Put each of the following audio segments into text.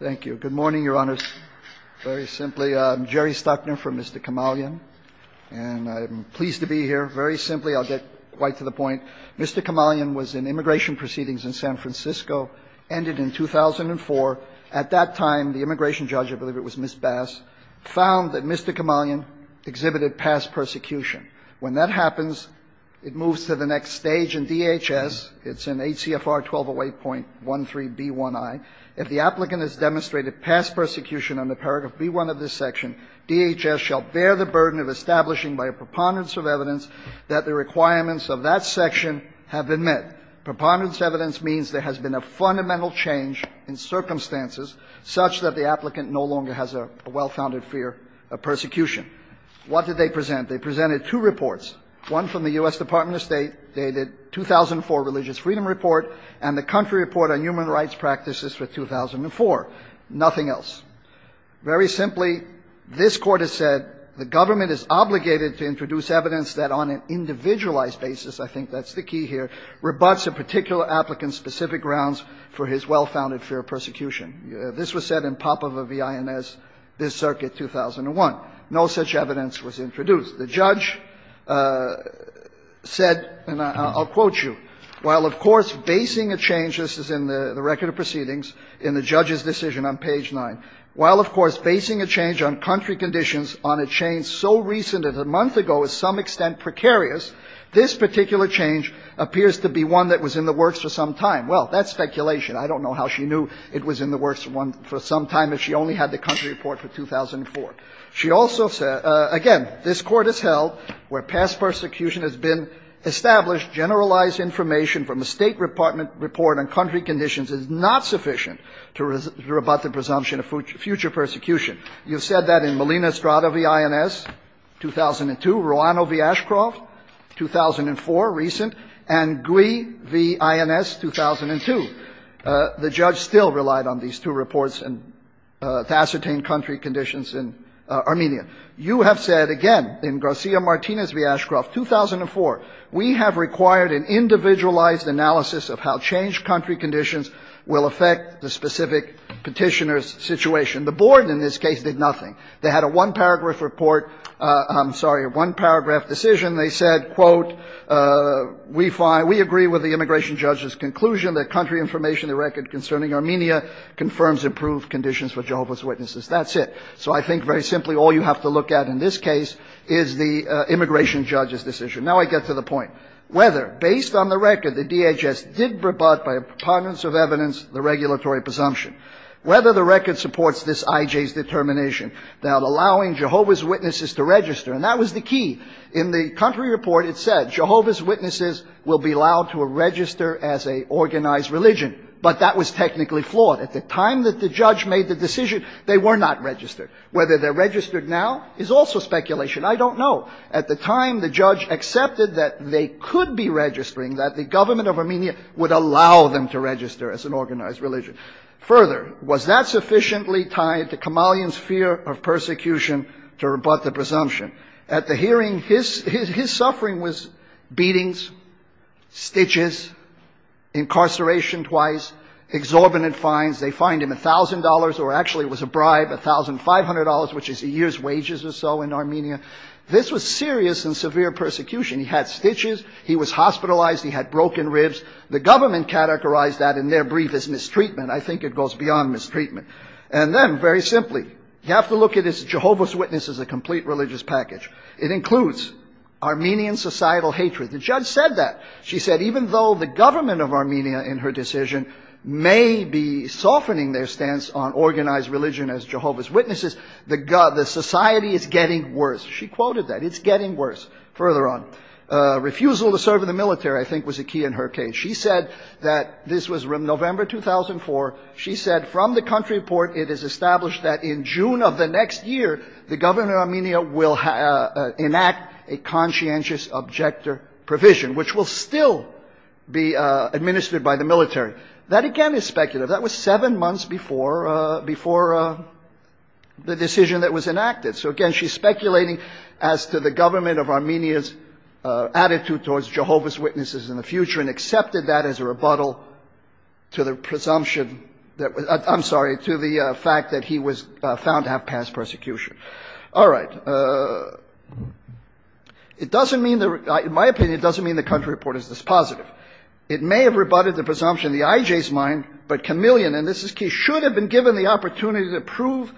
Thank you. Good morning, Your Honors. Very simply, I'm Jerry Stockner from Mr. Kamalyan. And I'm pleased to be here. Very simply, I'll get quite to the point, Mr. Kamalyan was in immigration proceedings in San Francisco, ended in 2004. At that time, the immigration judge, I believe it was Ms. Bass, found that Mr. Kamalyan exhibited past persecution. When that happens, it moves to the next stage in DHS. It's in ACFR 1208.13b1i. If the applicant has demonstrated past persecution under paragraph b1 of this section, DHS shall bear the burden of establishing by a preponderance of evidence that the requirements of that section have been met. Preponderance of evidence means there has been a fundamental change in circumstances such that the applicant no longer has a well-founded fear of persecution. What did they present? They presented two reports, one from the U.S. Department of State, dated 2004 Religious Freedom Report, and the Country Report on Human Rights Practices for 2004, nothing else. Very simply, this Court has said the government is obligated to introduce evidence that on an individualized basis, I think that's the key here, rebutts a particular applicant's specific grounds for his well-founded fear of persecution. This was said in pop of a V.I.N.S. this circuit, 2001. No such evidence was introduced. The judge said, and I'll quote you, while of course basing a change, this is in the record of proceedings, in the judge's decision on page 9, while of course basing a change on country conditions on a change so recent as a month ago is to some extent precarious, this particular change appears to be one that was in the works for some time. Well, that's speculation. I don't know how she knew it was in the works for some time if she only had the Country Report for 2004. She also said, again, this Court has held where past persecution has been established, generalized information from a State Department report on country conditions is not sufficient to rebut the presumption of future persecution. You've said that in Molina-Estrada v. I.N.S., 2002, Roano v. Ashcroft, 2004, recent, and Gouy v. I.N.S., 2002. The judge still relied on these two reports to ascertain country conditions in Armenia. You have said, again, in Garcia-Martinez v. Ashcroft, 2004, we have required an individualized analysis of how changed country conditions will affect the specific Petitioner's situation. The Board in this case did nothing. They had a one-paragraph report – I'm sorry, a one-paragraph decision. They said, quote, we find – we agree with the immigration judge's conclusion that country information, the record concerning Armenia, confirms improved conditions for Jehovah's Witnesses. That's it. So I think, very simply, all you have to look at in this case is the immigration judge's decision. Now I get to the point. Whether, based on the record, the DHS did rebut by a preponderance of evidence the regulatory presumption, whether the record supports this I.J.'s determination that allowing Jehovah's Witnesses to register – and that was the key. In the country report, it said Jehovah's Witnesses will be allowed to register as an organized religion, but that was technically flawed. At the time that the judge made the decision, they were not registered. Whether they're registered now is also speculation. I don't know. At the time, the judge accepted that they could be registering, that the government of Armenia would allow them to register as an organized religion. Further, was that sufficiently tied to Kamalian's fear of persecution to rebut the presumption? At the hearing, his suffering was beatings, stitches, incarceration twice, exorbitant fines. They fined him $1,000, or actually it was a bribe, $1,500, which is a year's wages or so in Armenia. This was serious and severe persecution. He had stitches. He was hospitalized. He had broken ribs. The government categorized that in their brief as mistreatment. I think it goes beyond mistreatment. And then, very simply, you have to look at Jehovah's Witnesses as a complete religious package. It includes Armenian societal hatred. The judge said that. She said, even though the government of Armenia, in her decision, may be softening their stance on organized religion as Jehovah's Witnesses, the society is getting worse. She quoted that. It's getting worse. Further on, refusal to serve in the military, I think, was a key in her case. She said that this was November 2004. She said, from the country report, it is established that in June of the next year, the government of Armenia will enact a conscientious objector provision, which will still be administered by the military. That, again, is speculative. That was seven months before the decision that was enacted. So, again, she's speculating as to the government of Armenia's attitude towards Jehovah's Witnesses in the future and accepted that as a rebuttal to the presumption that was – I'm sorry, to the fact that he was found to have passed persecution. All right. It doesn't mean – in my opinion, it doesn't mean the country report is this positive. It may have rebutted the presumption in the IJ's mind, but Kamilian – and this is key – should have been given the opportunity to prove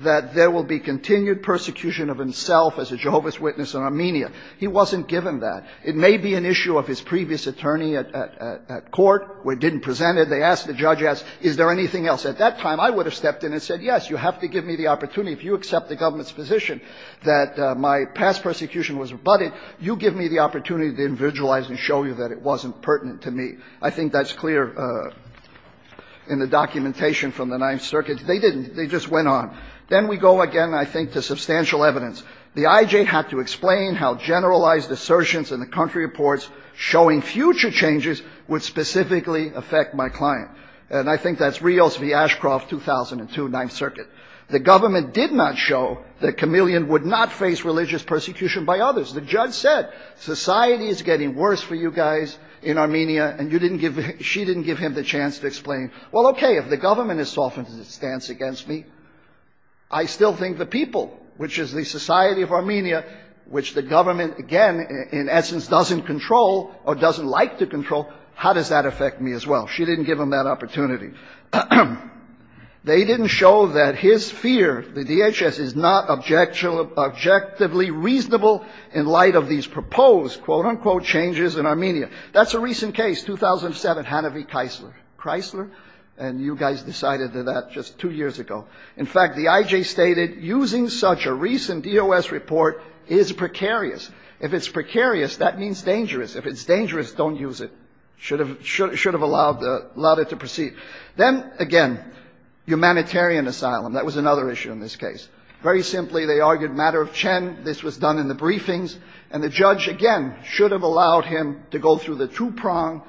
that there will be continued persecution of himself as a Jehovah's Witness in Armenia. He wasn't given that. It may be an issue of his previous attorney at court, where he didn't present it. They asked the judge, is there anything else? At that time, I would have stepped in and said, yes, you have to give me the opportunity. If you accept the government's position that my past persecution was rebutted, you give me the opportunity to individualize and show you that it wasn't pertinent to me. I think that's clear in the documentation from the Ninth Circuit. They didn't. They just went on. Then we go again, I think, to substantial evidence. The IJ had to explain how generalized assertions in the country reports showing future changes would specifically affect my client. And I think that's Rios v. Ashcroft, 2002, Ninth Circuit. The government did not show that Kamilian would not face religious persecution by others. The judge said, society is getting worse for you guys in Armenia, and you didn't give him – she didn't give him the chance to explain, well, okay, if the government has softened its stance against me, I still think the people, which is the society of Armenia, which the government, again, in essence, doesn't control or doesn't like to control, how does that affect me as well? She didn't give him that opportunity. They didn't show that his fear, the DHS, is not objectively reasonable in light of these proposed, quote, unquote, changes in Armenia. That's a recent case, 2007, Hanavi-Kreisler, and you guys decided that just two years ago. In fact, the IJ stated, using such a recent DOS report is precarious. If it's precarious, that means dangerous. If it's dangerous, don't use it. Should have allowed it to proceed. Then, again, humanitarian asylum. That was another issue in this case. Very simply, they argued matter of Chen. This was done in the briefings, and the judge, again, should have allowed him to go through the two-prong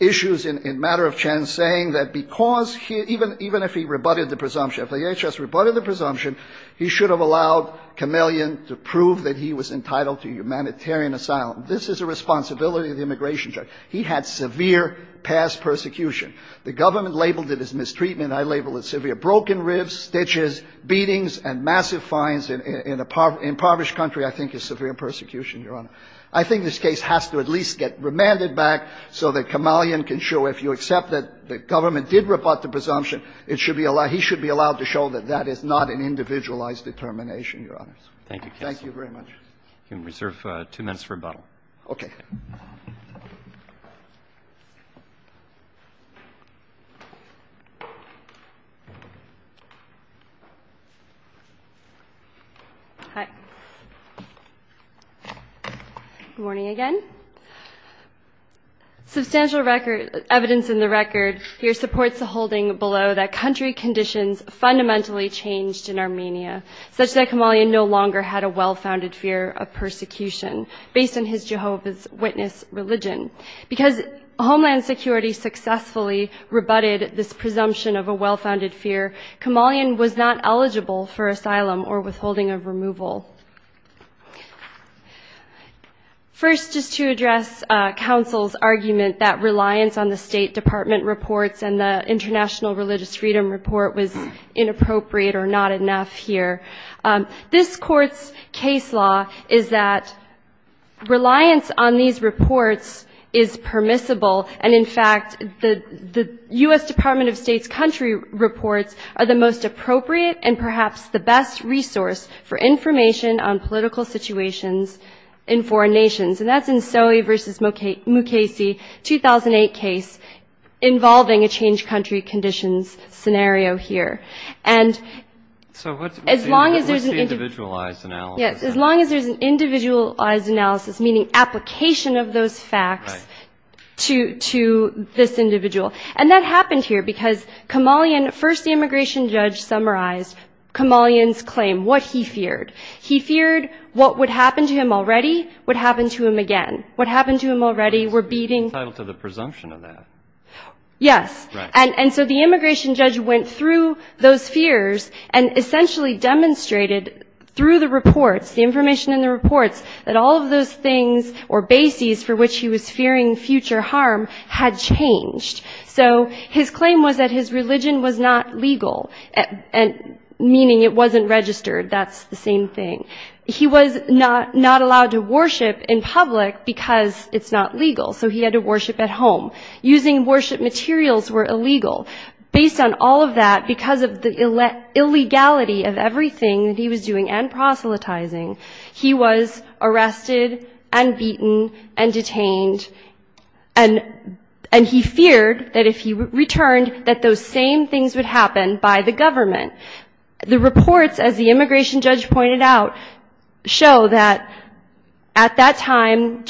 issues in matter of Chen, saying that because he – even if he rebutted the presumption, if the DHS rebutted the presumption, he should have allowed Kamelian to prove that he was entitled to humanitarian asylum. This is a responsibility of the immigration judge. He had severe past persecution. The government labeled it as mistreatment. I label it severe broken ribs, stitches, beatings, and massive fines in an impoverished country. I think it's severe persecution, Your Honor. I think this case has to at least get remanded back so that Kamelian can show if you accept that the government did rebut the presumption, it should be allowed – he should be allowed to show that that is not an individualized determination, Your Honor. Thank you very much. You can reserve two minutes for rebuttal. Okay. Hi. Good morning again. Substantial record – evidence in the record here supports the holding below that country conditions fundamentally changed in Armenia, such that Kamelian no longer had a well-founded fear of persecution based on his Jehovah's Witness religion. Because Homeland Security successfully rebutted this presumption of a well-founded fear, Kamelian was not eligible for asylum or withholding of removal. First, just to address counsel's argument that reliance on the State Department reports and the International Religious Freedom Report was inappropriate or not enough here, this Court's case law is that reliance on these reports is permissible. And in fact, the U.S. Department of State's country reports are the most appropriate and perhaps the best resource for information on political situations in foreign nations. And that's in Soey v. Mukasey 2008 case involving a changed country conditions scenario here. And as long as there's an individualized analysis, meaning application of those facts to this individual. And that happened here because Kamelian – first, the immigration judge summarized Kamelian's claim, what he feared. He feared what would happen to him already would happen to him again. What happened to him already were beating – Entitled to the presumption of that. Yes. And so the immigration judge went through those fears and essentially demonstrated through the reports, the information in the reports, that all of those things or bases for which he was fearing future harm had changed. So his claim was that his religion was not legal, meaning it wasn't registered. That's the same thing. He was not allowed to worship in public because it's not legal, so he had to worship at home. Using worship materials were illegal. Based on all of that, because of the illegality of everything that he was doing and proselytizing, he was arrested and beaten and detained. And he feared that if he returned that those same things would happen by the government. The reports, as the immigration judge pointed out, show that at that time,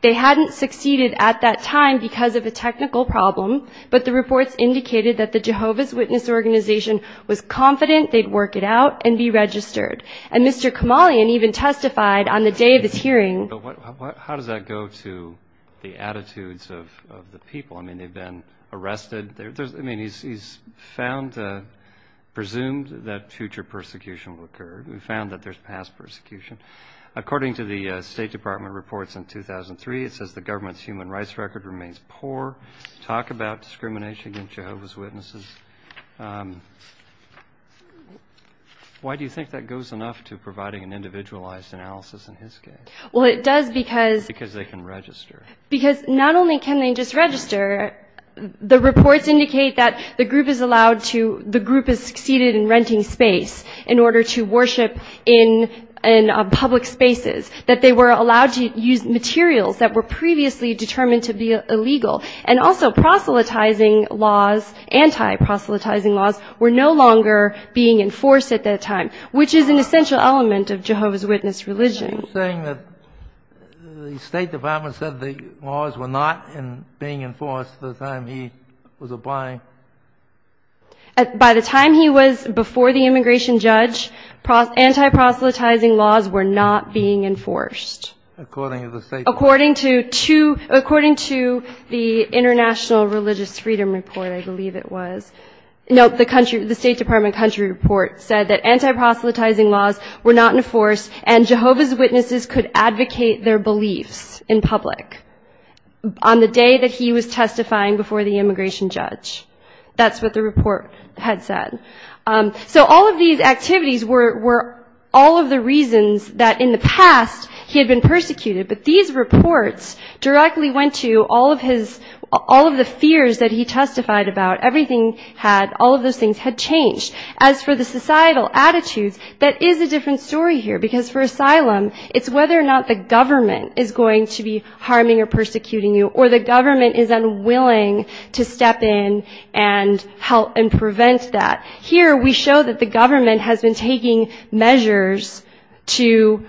they hadn't succeeded at that time because of a technical problem, but the reports indicated that the Jehovah's Witness organization was confident they'd work it out and be registered. And Mr. Kamalian even testified on the day of his hearing... But how does that go to the attitudes of the people? I mean, they've been arrested. I mean, he's found, presumed that future persecution will occur. He found that there's past persecution. According to the State Department reports in 2003, it says the government's human rights record remains poor. Talk about discrimination against Jehovah's Witnesses. Why do you think that goes enough to providing an individualized analysis in his case? Because they can register. Because not only can they just register, the reports indicate that the group has succeeded in renting space in order to worship in public spaces, that they were allowed to use materials that were previously determined to be illegal, and also proselytizing laws, anti-proselytizing laws were no longer being enforced at that time, which is an essential element of Jehovah's Witness religion. Are you saying that the State Department said the laws were not being enforced at the time he was applying? By the time he was before the immigration judge, anti-proselytizing laws were not being enforced. According to the State Department. According to the International Religious Freedom Report, I believe it was. No, the State Department country report said that anti-proselytizing laws were not enforced and Jehovah's Witnesses could advocate their beliefs in public on the day that he was testifying before the immigration judge. That's what the report had said. So all of these activities were all of the reasons that in the past he had been persecuted, but these reports directly went to all of his, all of the fears that he testified about. Everything had, all of those things had changed. As for the societal attitudes, that is a different story here, because for asylum, it's whether or not the government is going to be harming or persecuting you or the government is unwilling to step in and help and prevent that. Here we show that the government has been taking measures to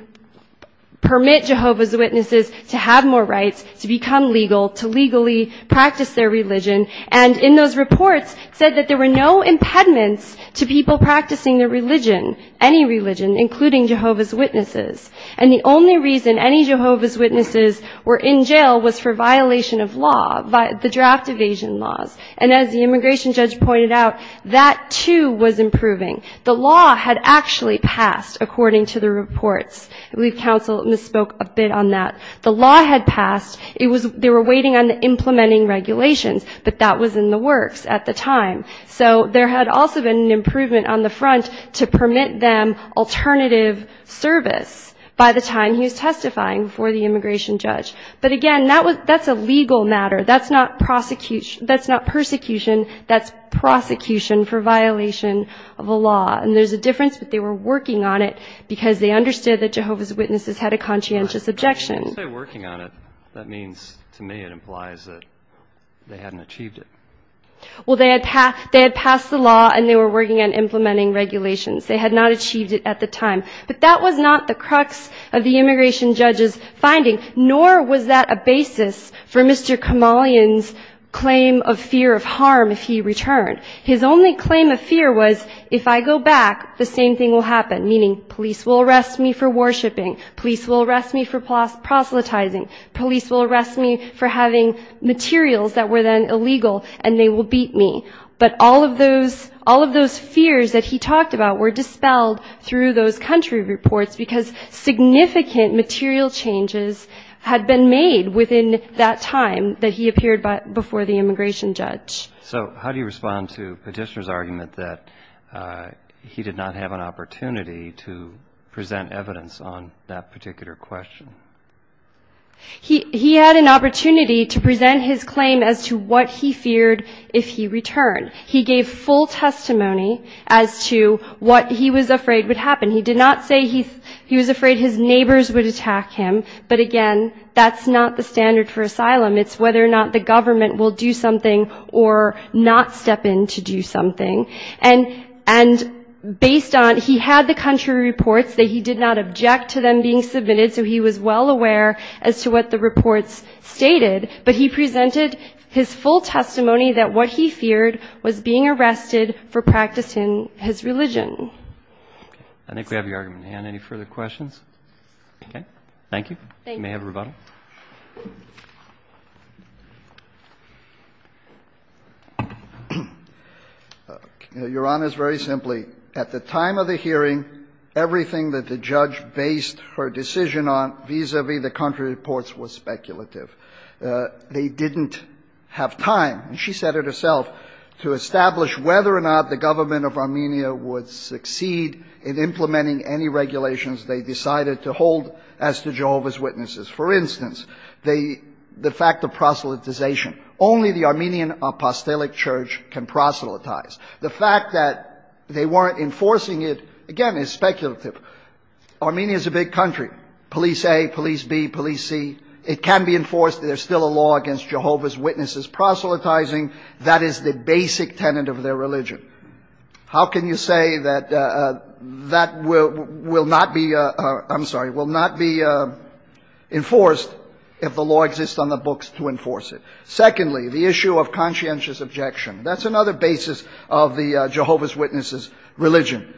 permit Jehovah's Witnesses to have more rights, to become legal, to legally practice their religion, and in those reports said that there were no impediments to people practicing their religion, any religion, including Jehovah's Witnesses. And the only reason any Jehovah's Witnesses were in jail was for violation of law, the draft evasion laws. And as the immigration judge pointed out, that, too, was improving. The law had actually passed, according to the reports. I believe counsel misspoke a bit on that. The law had passed, it was, they were waiting on the implementing regulations, but that was in the works at the time. So there had also been an improvement on the front to permit them alternative service by the time he was testifying before the immigration judge. But, again, that's a legal matter. That's not persecution, that's prosecution for violation of a law. And there's a difference, but they were working on it because they understood that Jehovah's Witnesses had a conscientious objection. Well, they had passed the law and they were working on implementing regulations. They had not achieved it at the time. But that was not the crux of the immigration judge's finding, nor was that a basis for Mr. Kamalian's claim of fear of harm if he returned. His only claim of fear was, if I go back, the same thing will happen, meaning police will arrest me for worshiping, police will arrest me for proselytizing, police will arrest me for having materials that were then illegal and they will beat me. But all of those fears that he talked about were dispelled through those country reports because significant material changes had been made within that time that he appeared before the immigration judge. So how do you respond to Petitioner's argument that he did not have an opportunity to present evidence on that particular question? He had an opportunity to present his claim as to what he feared if he returned. He gave full testimony as to what he was afraid would happen. He did not say he was afraid his neighbors would attack him, but again, that's not the standard for asylum. It's whether or not the government will do something or not step in to do something. And based on he had the country reports that he did not object to them being submitted, so he was well aware as to what the reports stated, but he presented his full testimony that what he feared was being arrested for practicing his religion. I think we have your argument. Can I hand any further questions? Okay. Thank you. Thank you. You may have a rebuttal. Your Honor, it's very simply, at the time of the hearing, everything that the judge based her decision on vis-à-vis the country reports was speculative. They didn't have time, and she said it herself, to establish whether or not the government of Armenia would succeed in implementing any regulations they decided to hold as to Jehovah's Witnesses. For instance, the fact of proselytization. Only the Armenian Apostolic Church can proselytize. The fact that they weren't enforcing it, again, is speculative. Armenia is a big country. Police A, police B, police C. It can be enforced. There's still a law against Jehovah's Witnesses proselytizing. That is the basic tenet of their religion. How can you say that that will not be, I'm sorry, will not be enforced if the law exists on the books to enforce it? Secondly, the issue of conscientious objection. That's another basis of the Jehovah's Witnesses religion.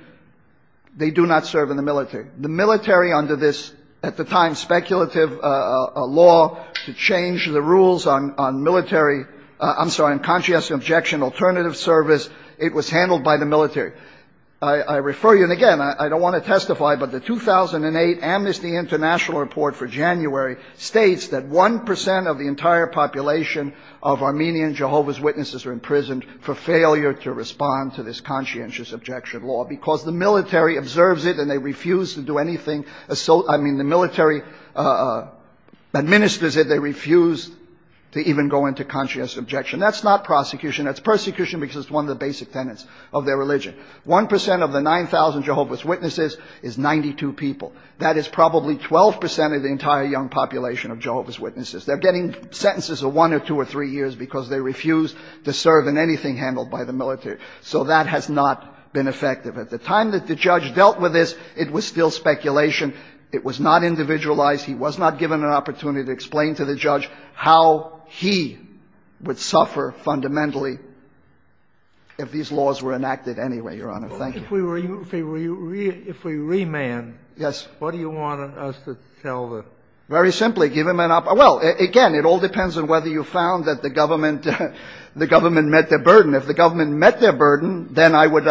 They do not serve in the military. The military, under this, at the time, speculative law, to change the rules on military, I'm sorry, on conscientious objection, alternative service, it was handled by the military. I refer you, and again, I don't want to testify, but the 2008 Amnesty International report for January states that 1 percent of the entire population of Armenian Jehovah's Witnesses are imprisoned for failure to respond to this conscientious objection law because the military observes it and they refuse to do anything I mean, the military administers it. They refuse to even go into conscientious objection. That's not prosecution. That's persecution because it's one of the basic tenets of their religion. 1 percent of the 9,000 Jehovah's Witnesses is 92 people. That is probably 12 percent of the entire young population of Jehovah's Witnesses. They're getting sentences of one or two or three years because they refuse to serve in anything handled by the military. So that has not been effective. At the time that the judge dealt with this, it was still speculation. It was not individualized. He was not given an opportunity to explain to the judge how he would suffer fundamentally if these laws were enacted anyway, Your Honor. Thank you. If we remand, what do you want us to tell the judge? Very simply, give him an opportunity. Well, again, it all depends on whether you found that the government met their burden. If the government met their burden, then I would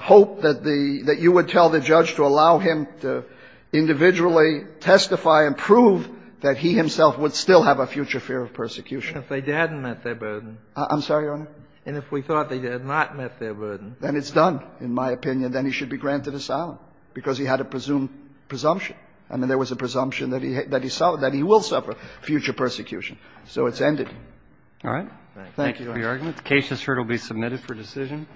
hope that the you would tell the judge to allow him to individually testify and prove that he himself would still have a future fear of persecution. If they hadn't met their burden. I'm sorry, Your Honor? And if we thought they had not met their burden. Then it's done, in my opinion. Then he should be granted asylum because he had a presumed presumption. I mean, there was a presumption that he will suffer future persecution. So it's ended. All right. Thank you. Case is heard. It will be submitted for decision.